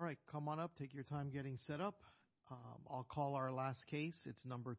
All right, come on up, take your time getting set up. I'll call our last case. It's number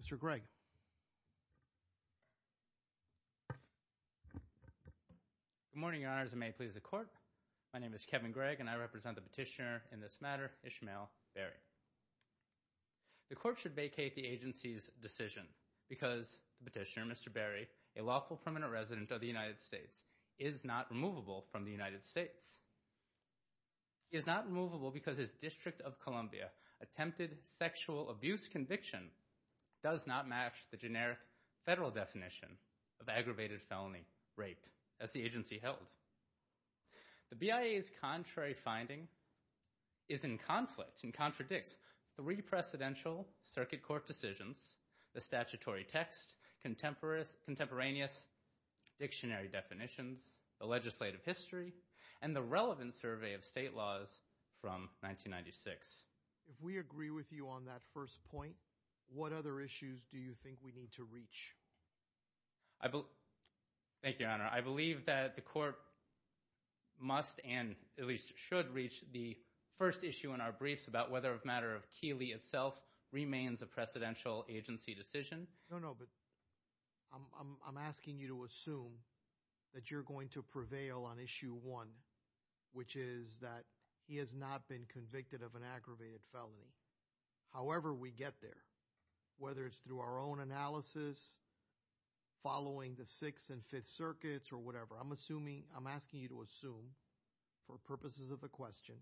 Mr. Gregg Good morning, your honors, and may it please the court. My name is Kevin Gregg and I represent the petitioner in this matter, Ishmahil Barrie. The court should vacate the agency's decision because the petitioner, Mr. Barrie, a lawful permanent resident of the United States, is not removable from the United States. He is not removable because his District of Columbia attempted sexual abuse conviction does not match the generic federal definition of aggravated felony rape as the agency held. The BIA's contrary finding is in conflict and contradicts the re-precedential circuit court decisions, the statutory text, contemporaneous dictionary definitions, the legislative history, and the relevant survey of state laws from 1996. If we agree with you on that first point, what other issues do you think we need to reach? Thank you, your honor. I believe that the court must and at least should reach the first issue in our briefs about whether a matter of Keeley itself remains a precedential agency decision. No, no, but I'm asking you to assume that you're going to prevail on issue one, which is that he has not been convicted of an aggravated felony. However, we get there, whether it's through our own analysis, following the Sixth and Fifth Circuits, or whatever. I'm assuming, I'm asking you to assume for purposes of the question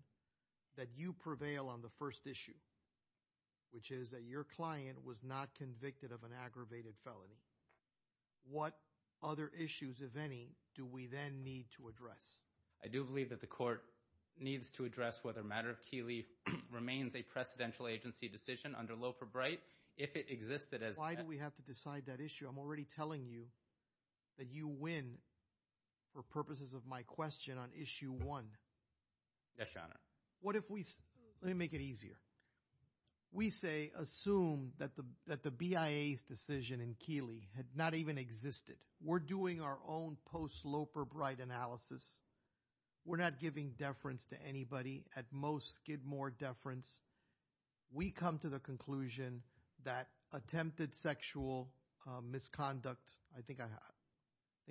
that you prevail on the first issue, which is that your client was not convicted of an aggravated felony. What other issues, if any, do we then need to address? I do believe that the court needs to address whether a matter of Keeley remains a precedential agency decision under Loeb or Bright. If it existed as... Why do we have to decide that issue? I'm already telling you that you win for purposes of my question on issue one. Yes, your honor. What if we, let me make it easier. We say, assume that the BIA's decision in Keeley had not even existed. We're doing our own post-Loeb or Bright analysis. We're not giving deference to anybody. At most, give more deference. We come to the conclusion that attempted sexual misconduct, I think I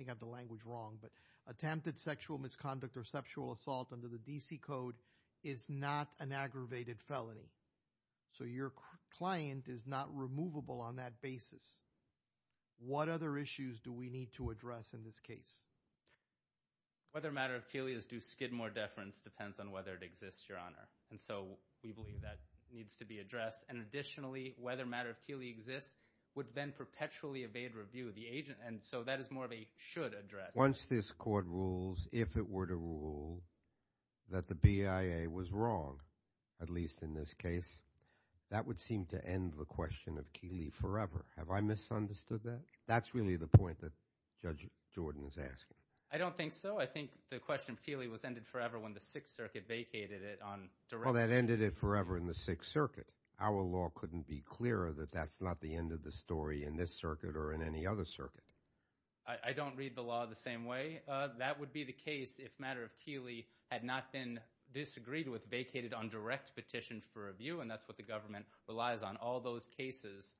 have the language wrong, but attempted sexual misconduct or sexual assault under the DC Code is not an aggravated felony. So your client is not removable on that basis. What other issues do we need to address in this case? Whether a matter of Keeley is due skid more deference depends on whether it exists, your honor. And so we believe that needs to be addressed. And additionally, whether a matter of Keeley exists would then perpetually evade review of the agent. And so that is more of a should address. Once this court rules, if it were to rule that the BIA was wrong, at least in this case, that would seem to end the question of Keeley forever. Have I misunderstood that? That's really the point that Judge Jordan is asking. I don't think so. I think the question of Keeley was ended forever when the Sixth Circuit vacated it on direct – Well, that ended it forever in the Sixth Circuit. Our law couldn't be clearer that that's not the end of the story in this circuit or in any other circuit. I don't read the law the same way. That would be the case if a matter of Keeley had not been disagreed with, vacated on direct petition for review, and that's what the government relies on. All those cases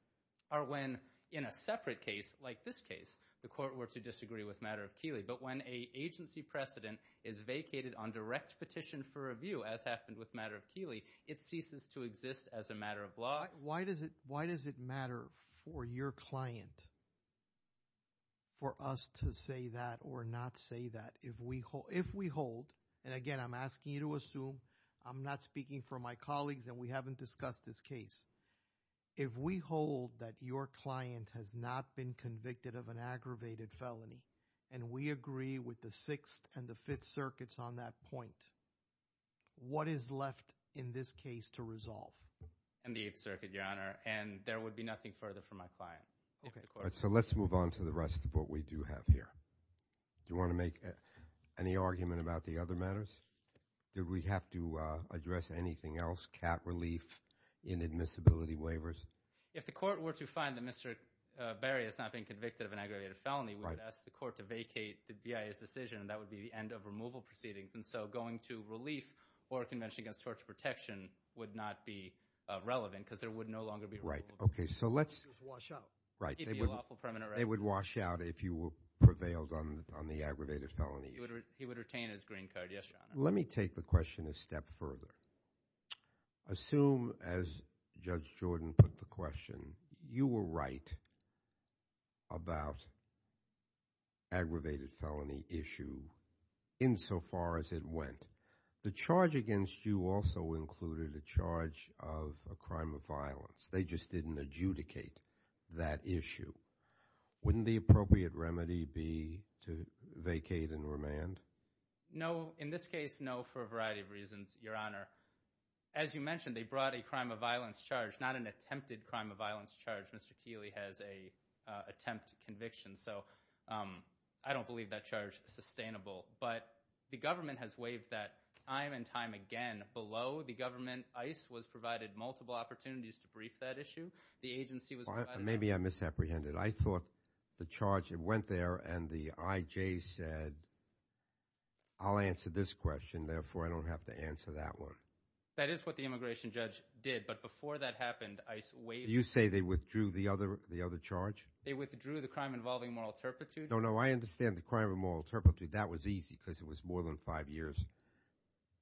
are when, in a separate case like this case, the court were to disagree with matter of Keeley. But when an agency precedent is vacated on direct petition for review, as happened with matter of Keeley, it ceases to exist as a matter of law. Why does it matter for your client for us to say that or not say that if we hold – and again, I'm asking you to assume I'm not speaking for my colleagues and we haven't discussed this case. If we hold that your client has not been convicted of an aggravated felony and we agree with the Sixth and the Fifth Circuits on that point, what is left in this case to resolve? In the Eighth Circuit, Your Honor, and there would be nothing further for my client. So let's move on to the rest of what we do have here. Do you want to make any argument about the other matters? Do we have to address anything else? Cat relief, inadmissibility waivers? If the court were to find that Mr. Berry has not been convicted of an aggravated felony, we would ask the court to vacate the BIA's decision, and that would be the end of removal proceedings. And so going to relief or a convention against torture protection would not be relevant because there would no longer be removal. Right. Okay. So let's – Just wash out. Right. They would wash out if you prevailed on the aggravated felony issue. He would retain his green card. Yes, Your Honor. Let me take the question a step further. Assume, as Judge Jordan put the question, you were right about aggravated felony issue insofar as it went. The charge against you also included a charge of a crime of violence. They just didn't adjudicate that issue. Wouldn't the appropriate remedy be to vacate and remand? No. In this case, no, for a variety of reasons, Your Honor. As you mentioned, they brought a crime of violence charge, not an attempted crime of violence charge. Mr. Keeley has an attempt conviction, so I don't believe that charge is sustainable. But the government has waived that time and time again. And below the government, ICE was provided multiple opportunities to brief that issue. The agency was provided – Maybe I misapprehended. I thought the charge went there and the IJ said, I'll answer this question, therefore, I don't have to answer that one. That is what the immigration judge did. But before that happened, ICE waived – So you say they withdrew the other charge? They withdrew the crime involving moral turpitude. No, no, I understand the crime of moral turpitude. That was easy because it was more than five years.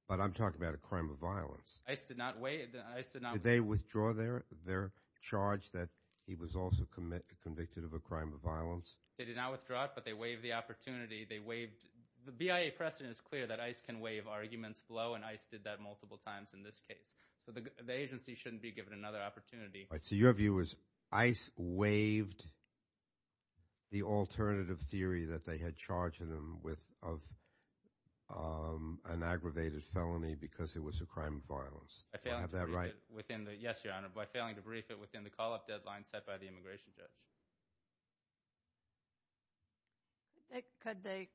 But I'm talking about a crime of violence. ICE did not waive – Did they withdraw their charge that he was also convicted of a crime of violence? They did not withdraw it, but they waived the opportunity. They waived – the BIA precedent is clear that ICE can waive arguments below, and ICE did that multiple times in this case. So the agency shouldn't be given another opportunity. So your view is ICE waived the alternative theory that they had charged him with an aggravated felony because it was a crime of violence. Do I have that right? Yes, Your Honor, by failing to brief it within the call-up deadline set by the immigration judge.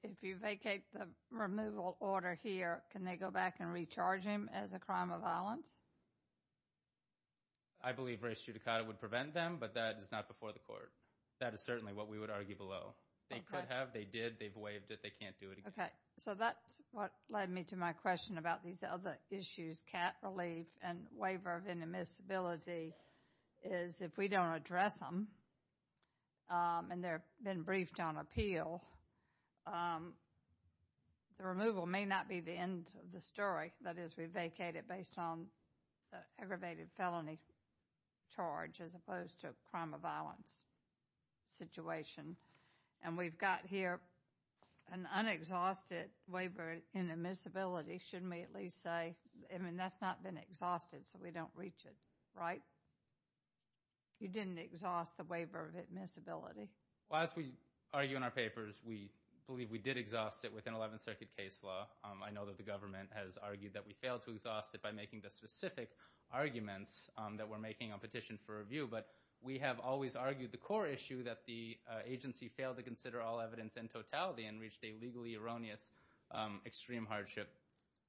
If you vacate the removal order here, can they go back and recharge him as a crime of violence? I believe race judicata would prevent them, but that is not before the court. That is certainly what we would argue below. They could have. They did. They've waived it. They can't do it again. Okay, so that's what led me to my question about these other issues, cat relief and waiver of inadmissibility, is if we don't address them and they've been briefed on appeal, the removal may not be the end of the story. That is, we vacate it based on the aggravated felony charge as opposed to a crime of violence situation. And we've got here an unexhausted waiver of inadmissibility, shouldn't we at least say? I mean, that's not been exhausted, so we don't reach it, right? You didn't exhaust the waiver of inadmissibility. Well, as we argue in our papers, we believe we did exhaust it within Eleventh Circuit case law. I know that the government has argued that we failed to exhaust it by making the specific arguments that we're making on petition for review, but we have always argued the core issue that the agency failed to consider all evidence in totality and reached a legally erroneous extreme hardship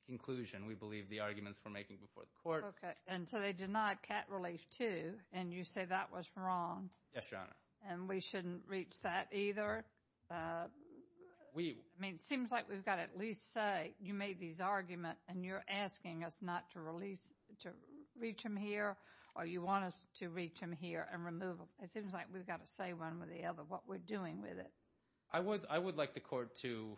conclusion. We believe the arguments we're making before the court. Okay, and so they denied cat relief too, and you say that was wrong. Yes, Your Honor. And we shouldn't reach that either? I mean, it seems like we've got to at least say you made these arguments and you're asking us not to reach them here or you want us to reach them here and remove them. It seems like we've got to say one or the other what we're doing with it. I would like the court to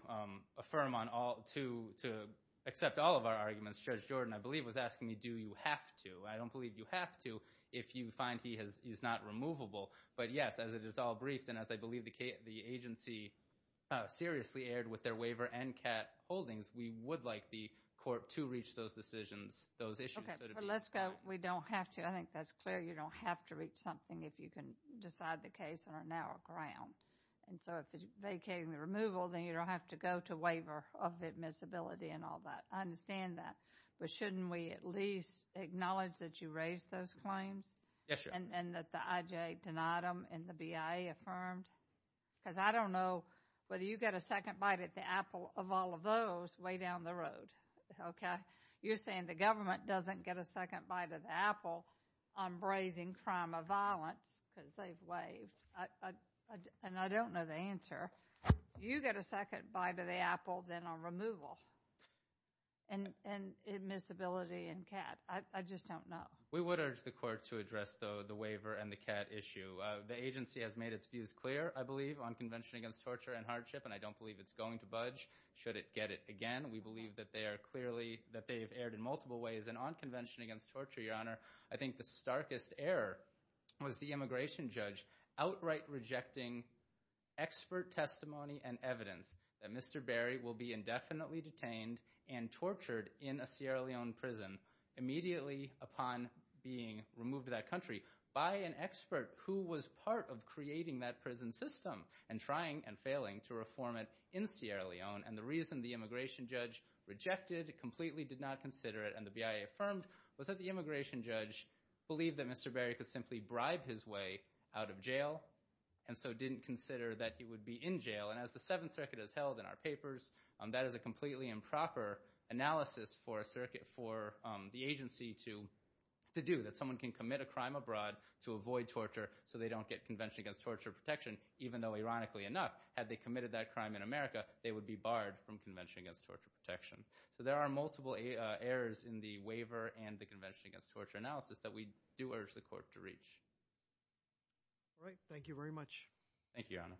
accept all of our arguments. Judge Jordan, I believe, was asking me do you have to. I don't believe you have to if you find he is not removable. But, yes, as it is all briefed and as I believe the agency seriously erred with their waiver and cat holdings, we would like the court to reach those decisions, those issues. Okay, but let's go we don't have to. I think that's clear. You don't have to reach something if you can decide the case on a narrow ground. And so if it's vacating the removal, then you don't have to go to waiver of admissibility and all that. I understand that. But shouldn't we at least acknowledge that you raised those claims? Yes, Your Honor. And that the IJA denied them and the BIA affirmed? Because I don't know whether you get a second bite at the apple of all of those way down the road, okay? You're saying the government doesn't get a second bite of the apple on brazing crime of violence because they've waived. And I don't know the answer. You get a second bite of the apple then on removal and admissibility and cat. I just don't know. We would urge the court to address, though, the waiver and the cat issue. The agency has made its views clear, I believe, on Convention Against Torture and Hardship. And I don't believe it's going to budge should it get it again. We believe that they are clearly that they have erred in multiple ways. And on Convention Against Torture, Your Honor, I think the starkest error was the immigration judge outright rejecting expert testimony and evidence that Mr. Berry will be indefinitely detained and tortured in a Sierra Leone prison immediately upon being removed to that country by an expert who was part of creating that prison system and trying and failing to reform it in Sierra Leone. And the reason the immigration judge rejected, completely did not consider it, and the BIA affirmed, was that the immigration judge believed that Mr. Berry could simply bribe his way out of jail and so didn't consider that he would be in jail. And as the Seventh Circuit has held in our papers, that is a completely improper analysis for the agency to do, that someone can commit a crime abroad to avoid torture so they don't get Convention Against Torture protection, even though, ironically enough, had they committed that crime in America, they would be barred from Convention Against Torture protection. So there are multiple errors in the waiver and the Convention Against Torture analysis that we do urge the court to reach. All right. Thank you very much. Thank you, Your Honor.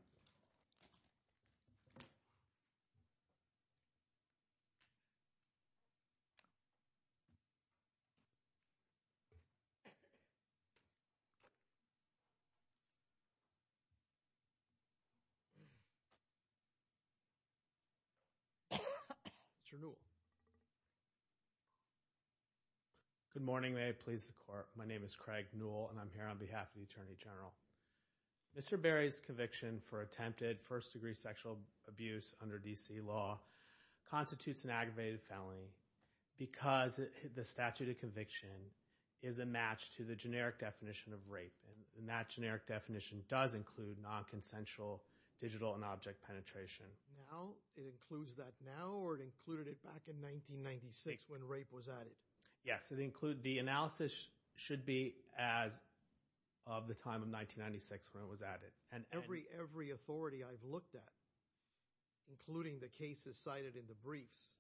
Mr. Newell. Good morning. May I please the court? My name is Craig Newell and I'm here on behalf of the Attorney General. Mr. Berry's conviction for attempted first-degree sexual abuse under D.C. law constitutes an aggravated felony because the statute of conviction is a match to the generic definition of rape. And that generic definition does include nonconsensual digital and object penetration. Now? It includes that now or it included it back in 1996 when rape was added? Yes, it includes – the analysis should be as of the time of 1996 when it was added. And every authority I've looked at, including the cases cited in the briefs,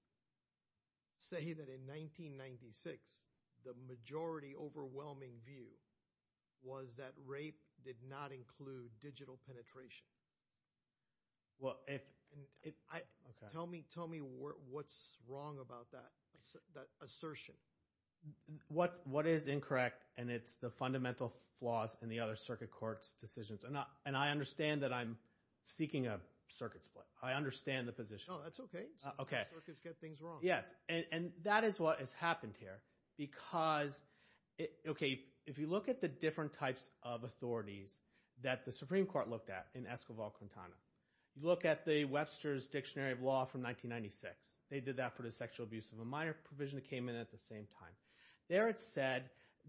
say that in 1996 the majority overwhelming view was that rape did not include digital penetration. Well, if – okay. Tell me what's wrong about that assertion. What is incorrect? And it's the fundamental flaws in the other circuit court's decisions. And I understand that I'm seeking a circuit split. I understand the position. No, that's okay. Circuits get things wrong. Yes, and that is what has happened here because – okay. If you look at the different types of authorities that the Supreme Court looked at in Escobar-Quintana, you look at the Webster's Dictionary of Law from 1996. They did that for the sexual abuse of a minor provision that came in at the same time. There it said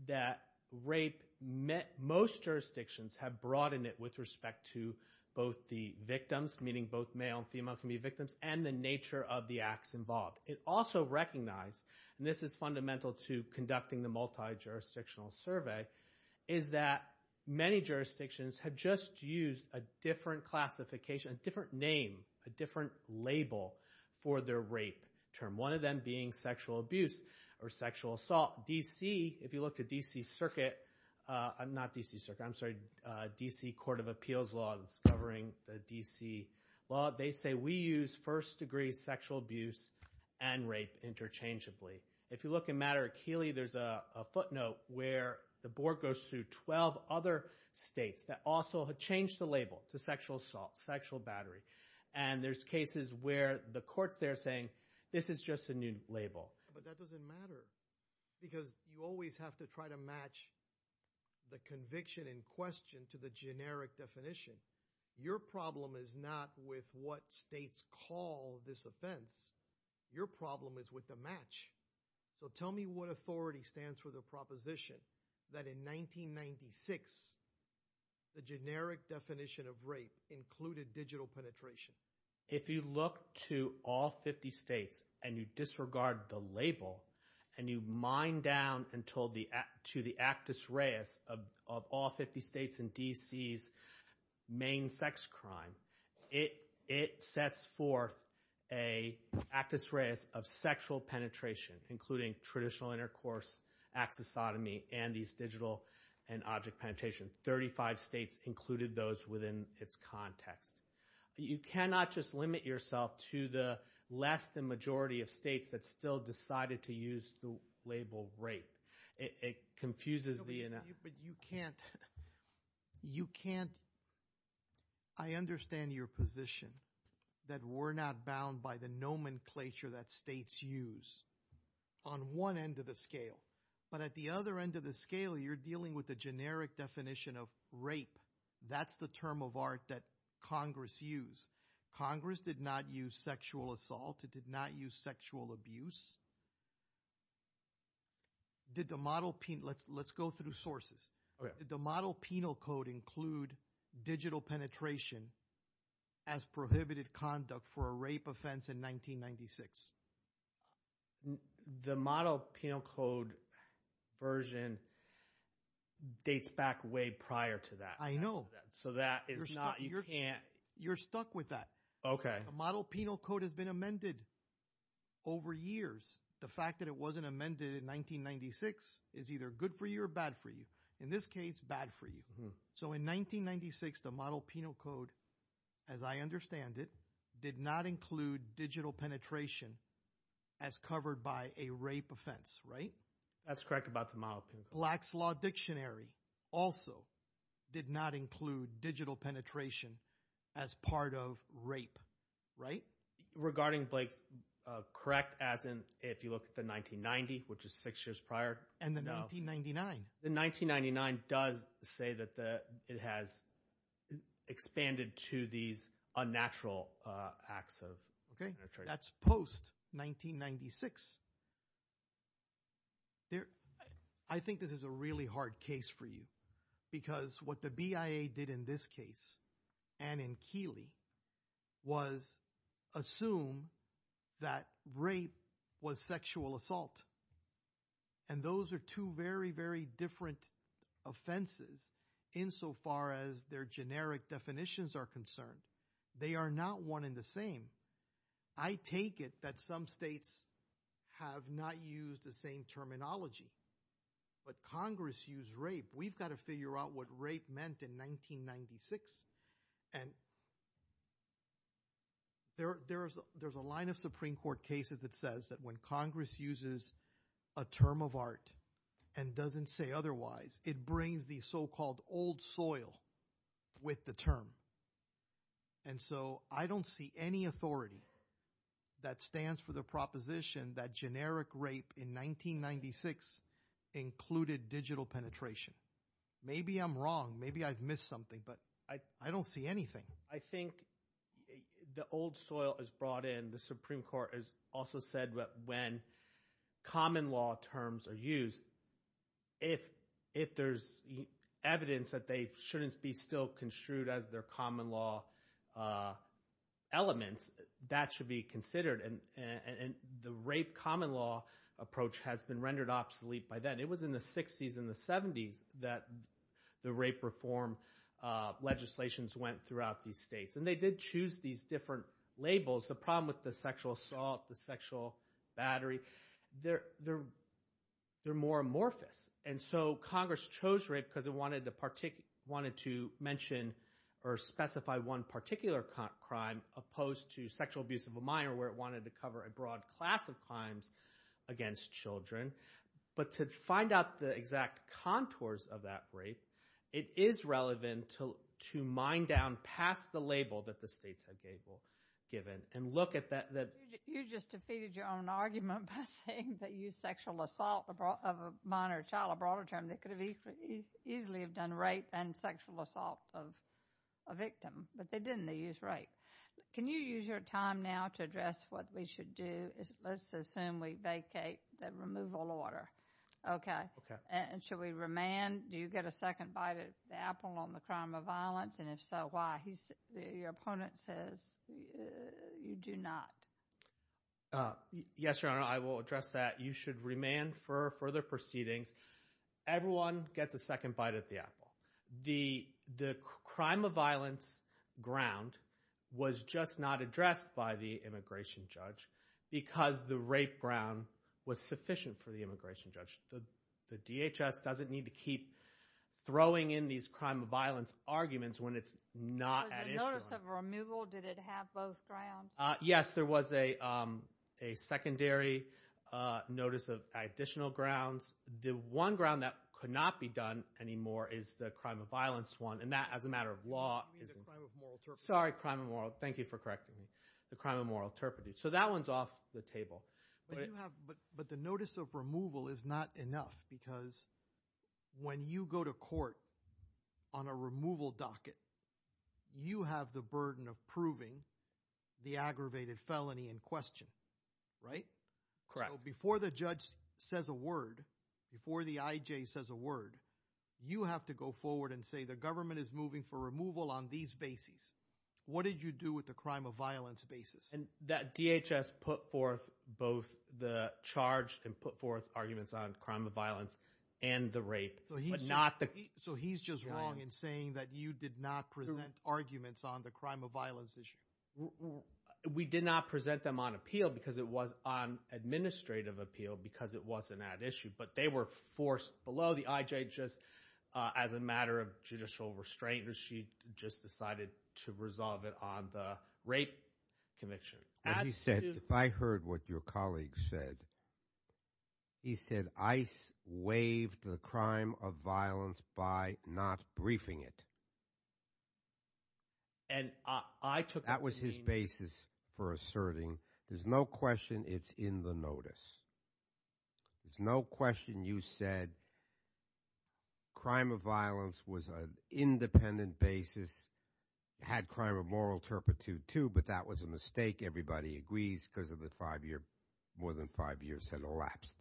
that rape met – most jurisdictions have broadened it with respect to both the victims, meaning both male and female can be victims, and the nature of the acts involved. It also recognized – and this is fundamental to conducting the multijurisdictional survey – is that many jurisdictions have just used a different classification, a different name, a different label for their rape term, one of them being sexual abuse or sexual assault. D.C. – if you look to D.C. Circuit – not D.C. Circuit. I'm sorry, D.C. Court of Appeals Law that's covering the D.C. law, they say we use first-degree sexual abuse and rape interchangeably. If you look in Madera-Keeley, there's a footnote where the board goes through 12 other states that also have changed the label to sexual assault, sexual battery. And there's cases where the courts there are saying this is just a new label. But that doesn't matter because you always have to try to match the conviction in question to the generic definition. Your problem is not with what states call this offense. Your problem is with the match. So tell me what authority stands for the proposition that in 1996 the generic definition of rape included digital penetration. If you look to all 50 states and you disregard the label and you mine down to the actus reus of all 50 states in D.C.'s main sex crime, it sets forth an actus reus of sexual penetration, including traditional intercourse, axisotomy, and these digital and object penetration. Thirty-five states included those within its context. You cannot just limit yourself to the less than majority of states that still decided to use the label rape. It confuses the enough. But you can't. You can't. I understand your position that we're not bound by the nomenclature that states use on one end of the scale. But at the other end of the scale, you're dealing with the generic definition of rape. That's the term of art that Congress used. Congress did not use sexual assault. It did not use sexual abuse. Let's go through sources. Did the model penal code include digital penetration as prohibited conduct for a rape offense in 1996? The model penal code version dates back way prior to that. I know. So that is not – you can't – You're stuck with that. Okay. The model penal code has been amended over years. The fact that it wasn't amended in 1996 is either good for you or bad for you. In this case, bad for you. So in 1996, the model penal code, as I understand it, did not include digital penetration as covered by a rape offense, right? That's correct about the model penal code. Black's Law Dictionary also did not include digital penetration as part of rape, right? Regarding Blake's – correct as in if you look at the 1990, which is six years prior. And the 1999. The 1999 does say that it has expanded to these unnatural acts of penetration. That's post-1996. I think this is a really hard case for you because what the BIA did in this case and in Keeley was assume that rape was sexual assault. And those are two very, very different offenses insofar as their generic definitions are concerned. They are not one and the same. I take it that some states have not used the same terminology. But Congress used rape. We've got to figure out what rape meant in 1996. And there's a line of Supreme Court cases that says that when Congress uses a term of art and doesn't say otherwise, it brings the so-called old soil with the term. And so I don't see any authority that stands for the proposition that generic rape in 1996 included digital penetration. Maybe I'm wrong. Maybe I've missed something, but I don't see anything. I think the old soil is brought in. The Supreme Court has also said that when common law terms are used, if there's evidence that they shouldn't be still construed as their common law elements, that should be considered. And the rape common law approach has been rendered obsolete by then. It was in the 60s and the 70s that the rape reform legislations went throughout these states. And they did choose these different labels. The problem with the sexual assault, the sexual battery, they're more amorphous. And so Congress chose rape because it wanted to mention or specify one particular crime opposed to sexual abuse of a minor where it wanted to cover a broad class of crimes against children. But to find out the exact contours of that rape, it is relevant to mine down past the label that the states had given and look at that. You just defeated your own argument by saying they used sexual assault of a minor child, a broader term. They could easily have done rape and sexual assault of a victim, but they didn't. They used rape. Can you use your time now to address what we should do? Let's assume we vacate the removal order. And should we remand? Do you get a second bite at the apple on the crime of violence? And if so, why? Your opponent says you do not. Yes, Your Honor, I will address that. You should remand for further proceedings. Everyone gets a second bite at the apple. The crime of violence ground was just not addressed by the immigration judge because the rape ground was sufficient for the immigration judge. The DHS doesn't need to keep throwing in these crime of violence arguments when it's not at issue. Was there notice of removal? Did it have both grounds? Yes, there was a secondary notice of additional grounds. The one ground that could not be done anymore is the crime of violence one, and that, as a matter of law, is – You mean the crime of moral turpitude? Sorry, crime of moral – thank you for correcting me. The crime of moral turpitude. So that one's off the table. But you have – but the notice of removal is not enough because when you go to court on a removal docket, you have the burden of proving the aggravated felony in question, right? Correct. Before the judge says a word, before the IJ says a word, you have to go forward and say the government is moving for removal on these bases. What did you do with the crime of violence basis? That DHS put forth both the charge and put forth arguments on crime of violence and the rape, but not the – So he's just wrong in saying that you did not present arguments on the crime of violence issue? We did not present them on appeal because it was on administrative appeal because it wasn't that issue, but they were forced below the IJ just as a matter of judicial restraint. She just decided to resolve it on the rape conviction. He said – I heard what your colleague said. He said ICE waived the crime of violence by not briefing it. And I took that to mean – That was his basis for asserting there's no question it's in the notice. There's no question you said crime of violence was an independent basis. It had crime of moral turpitude too, but that was a mistake. Everybody agrees because of the five-year – more than five years had elapsed.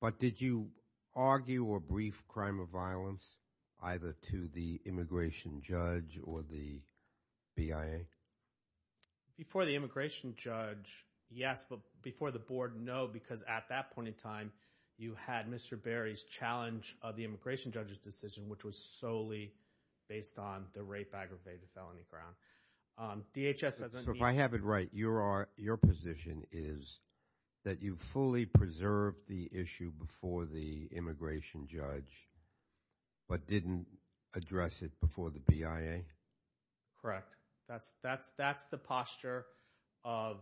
But did you argue or brief crime of violence either to the immigration judge or the BIA? Before the immigration judge, yes. But before the board, no, because at that point in time, you had Mr. Berry's challenge of the immigration judge's decision, which was solely based on the rape aggravated felony ground. DHS doesn't mean –– before the immigration judge, but didn't address it before the BIA? Correct. That's the posture of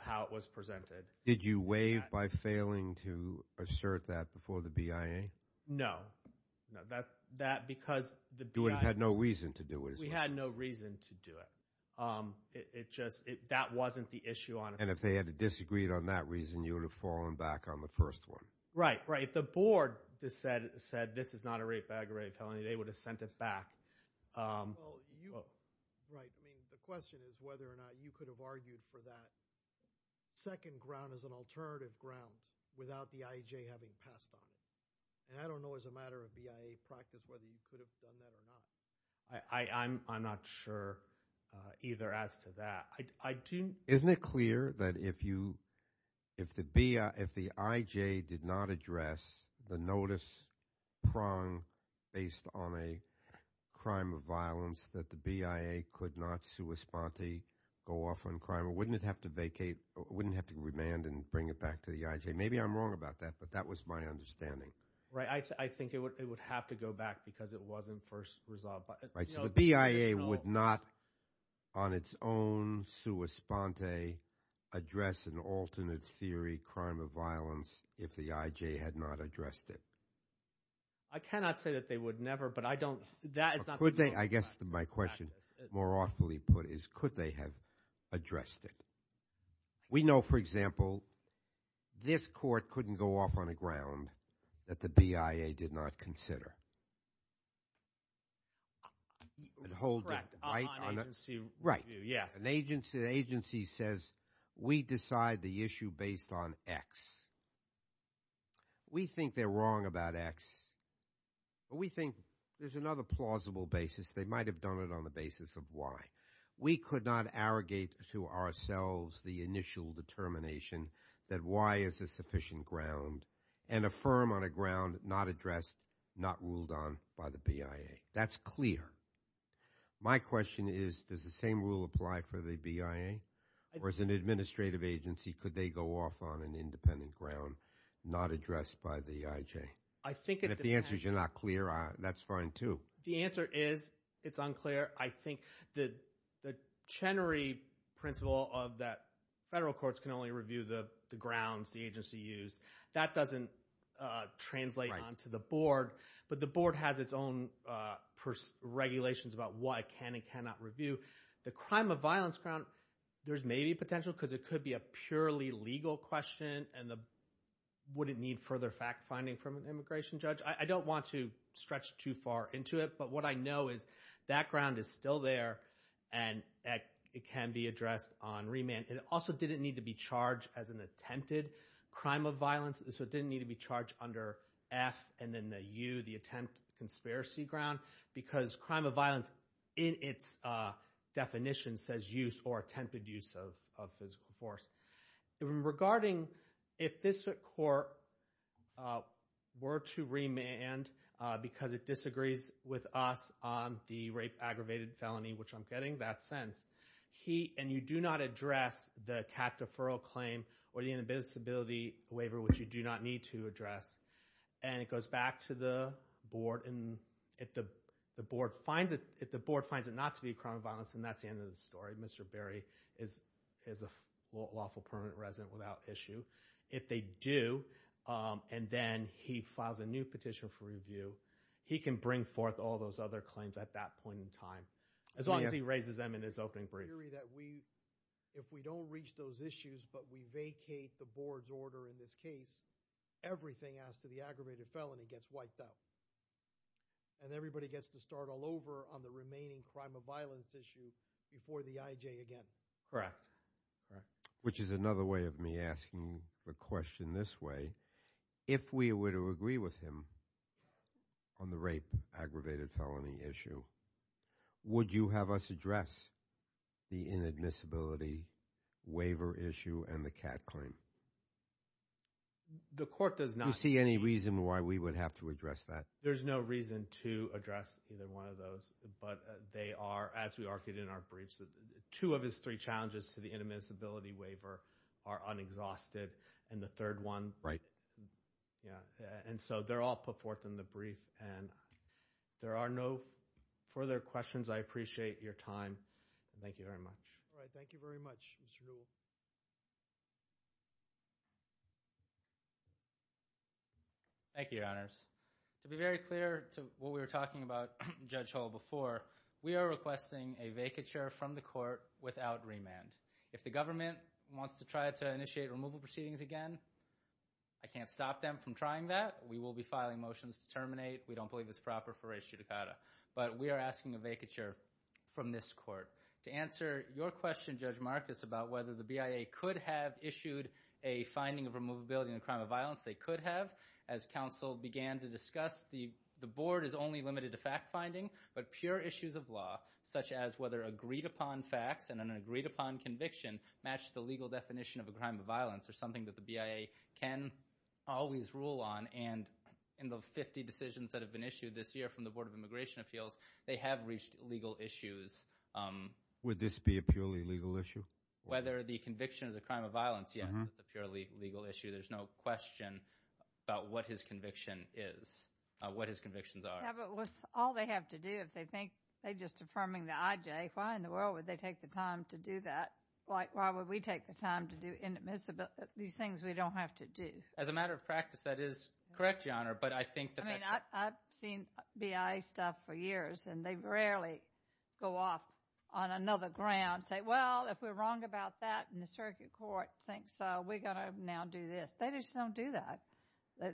how it was presented. Did you waive by failing to assert that before the BIA? No. That because the BIA – You had no reason to do it. We had no reason to do it. It just – that wasn't the issue on – And if they had disagreed on that reason, you would have fallen back on the first one. Right, right. The board said this is not a rape aggravated felony. They would have sent it back. Well, you – right. I mean the question is whether or not you could have argued for that second ground as an alternative ground without the IAJ having passed on it. And I don't know as a matter of BIA practice whether you could have done that or not. I'm not sure either as to that. Isn't it clear that if you – if the IJ did not address the notice prong based on a crime of violence that the BIA could not sui sponte, go off on crime? Wouldn't it have to vacate – wouldn't it have to remand and bring it back to the IJ? Maybe I'm wrong about that, but that was my understanding. Right. I think it would have to go back because it wasn't first resolved. Right, so the BIA would not on its own sui sponte address an alternate theory crime of violence if the IJ had not addressed it. I cannot say that they would never, but I don't – that is not the rule of practice. I guess my question, more awfully put, is could they have addressed it? We know, for example, this court couldn't go off on a ground that the BIA did not consider. Correct. Yes. An agency says we decide the issue based on X. We think they're wrong about X, but we think there's another plausible basis. They might have done it on the basis of Y. We could not arrogate to ourselves the initial determination that Y is a sufficient ground and affirm on a ground not addressed, not ruled on by the BIA. That's clear. My question is does the same rule apply for the BIA, or as an administrative agency, could they go off on an independent ground not addressed by the IJ? And if the answer's you're not clear, that's fine too. The answer is it's unclear. I think the Chenery principle of that federal courts can only review the grounds the agency used, that doesn't translate onto the board. But the board has its own regulations about what it can and cannot review. The crime of violence ground, there's maybe potential because it could be a purely legal question and wouldn't need further fact-finding from an immigration judge. I don't want to stretch too far into it, but what I know is that ground is still there and it can be addressed on remand. It also didn't need to be charged as an attempted crime of violence, so it didn't need to be charged under F and then the U, the attempt conspiracy ground, because crime of violence in its definition says use or attempted use of physical force. Regarding if this court were to remand because it disagrees with us on the rape-aggravated felony, which I'm getting that sense, and you do not address the CAC deferral claim or the inability waiver, which you do not need to address, and it goes back to the board and if the board finds it not to be a crime of violence, and that's the end of the story. Mr. Berry is a lawful permanent resident without issue. If they do and then he files a new petition for review, he can bring forth all those other claims at that point in time as long as he raises them in his opening brief. If we don't reach those issues but we vacate the board's order in this case, everything as to the aggravated felony gets wiped out and everybody gets to start all over on the remaining crime of violence issue before the IJ again. Which is another way of me asking the question this way. If we were to agree with him on the rape-aggravated felony issue, would you have us address the inadmissibility waiver issue and the CAC claim? The court does not. Do you see any reason why we would have to address that? There's no reason to address either one of those, but they are, as we argued in our briefs, two of his three challenges to the inadmissibility waiver are unexhausted and the third one. Right. Yeah, and so they're all put forth in the brief and there are no further questions. I appreciate your time. Thank you very much. All right. Thank you very much, Mr. Newell. Thank you, Your Honors. To be very clear to what we were talking about, Judge Hull, before, we are requesting a vacature from the court without remand. If the government wants to try to initiate removal proceedings again, I can't stop them from trying that. We will be filing motions to terminate. We don't believe it's proper for res judicata. But we are asking a vacature from this court. To answer your question, Judge Marcus, about whether the BIA could have issued a finding of removability in a crime of violence, they could have. As counsel began to discuss, the board is only limited to fact-finding, but pure issues of law, such as whether agreed-upon facts and an agreed-upon conviction match the legal definition of a crime of violence, are something that the BIA can always rule on. And in the 50 decisions that have been issued this year from the Board of Immigration Appeals, they have reached legal issues. Would this be a purely legal issue? Whether the conviction is a crime of violence, yes, it's a purely legal issue. There's no question about what his conviction is, what his convictions are. Yeah, but with all they have to do, if they think they're just affirming the IJ, why in the world would they take the time to do that? Why would we take the time to do these things we don't have to do? As a matter of practice, that is correct, Your Honor, but I think that that's a— I mean, I've seen BIA stuff for years, and they rarely go off on another ground, say, well, if we're wrong about that and the circuit court thinks so, we've got to now do this. They just don't do that.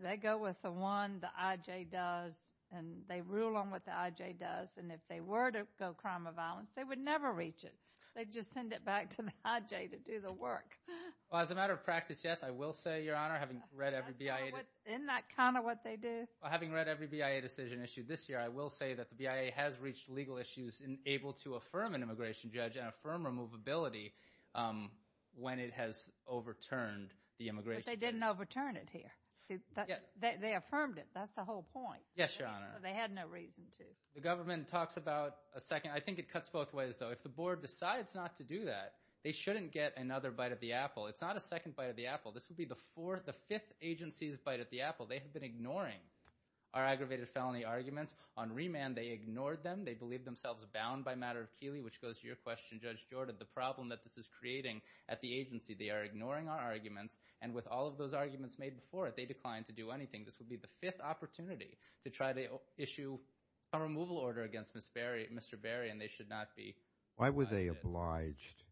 They go with the one the IJ does, and they rule on what the IJ does, and if they were to go crime of violence, they would never reach it. They'd just send it back to the IJ to do the work. Well, as a matter of practice, yes, I will say, Your Honor, having read every BIA— Isn't that kind of what they do? Well, having read every BIA decision issued this year, I will say that the BIA has reached legal issues and able to affirm an immigration judge and affirm removability when it has overturned the immigration case. But they didn't overturn it here. They affirmed it. That's the whole point. Yes, Your Honor. They had no reason to. The government talks about a second—I think it cuts both ways, though. If the board decides not to do that, they shouldn't get another bite of the apple. It's not a second bite of the apple. This would be the fifth agency's bite of the apple. They have been ignoring our aggravated felony arguments. On remand, they ignored them. They believed themselves bound by a matter of Keeley, which goes to your question, Judge Jordan, the problem that this is creating at the agency. They are ignoring our arguments, and with all of those arguments made before it, they declined to do anything. This would be the fifth opportunity to try to issue a removal order against Mr. Berry, and they should not be— Why were they obliged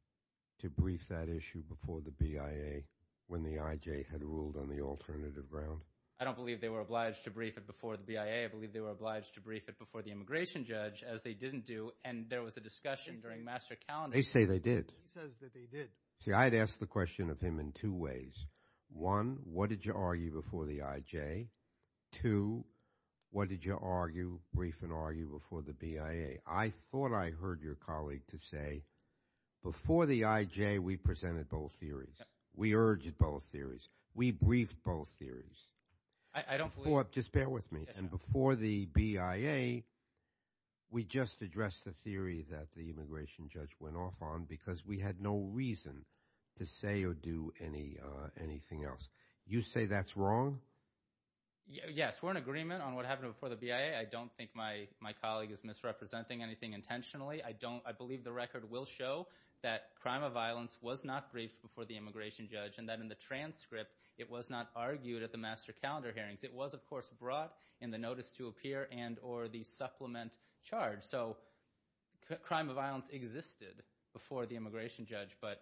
to brief that issue before the BIA when the IJ had ruled on the alternative ground? I don't believe they were obliged to brief it before the BIA. I believe they were obliged to brief it before the immigration judge, as they didn't do, and there was a discussion during master calendar. They say they did. He says that they did. See, I'd ask the question of him in two ways. One, what did you argue before the IJ? Two, what did you argue, brief and argue before the BIA? I thought I heard your colleague to say, before the IJ, we presented both theories. We urged both theories. We briefed both theories. I don't believe— You know what? Just bear with me. Before the BIA, we just addressed the theory that the immigration judge went off on because we had no reason to say or do anything else. You say that's wrong? Yes, we're in agreement on what happened before the BIA. I don't think my colleague is misrepresenting anything intentionally. I believe the record will show that crime of violence was not briefed before the immigration judge and that in the transcript it was not argued at the master calendar hearings. It was, of course, brought in the notice to appear and or the supplement charge. So crime of violence existed before the immigration judge, but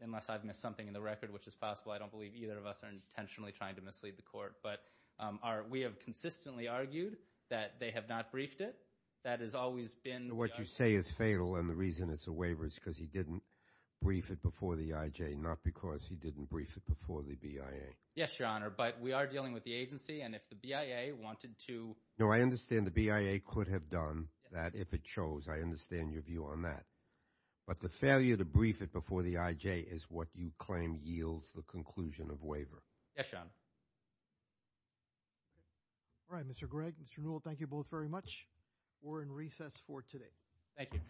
unless I've missed something in the record, which is possible, I don't believe either of us are intentionally trying to mislead the court. But we have consistently argued that they have not briefed it. That has always been the argument. So what you say is fatal and the reason it's a waiver is because he didn't brief it before the IJ, not because he didn't brief it before the BIA. Yes, Your Honor. But we are dealing with the agency, and if the BIA wanted to— No, I understand the BIA could have done that if it chose. I understand your view on that. But the failure to brief it before the IJ is what you claim yields the conclusion of waiver. Yes, Your Honor. All right, Mr. Gregg, Mr. Newell, thank you both very much. We're in recess for today. Thank you.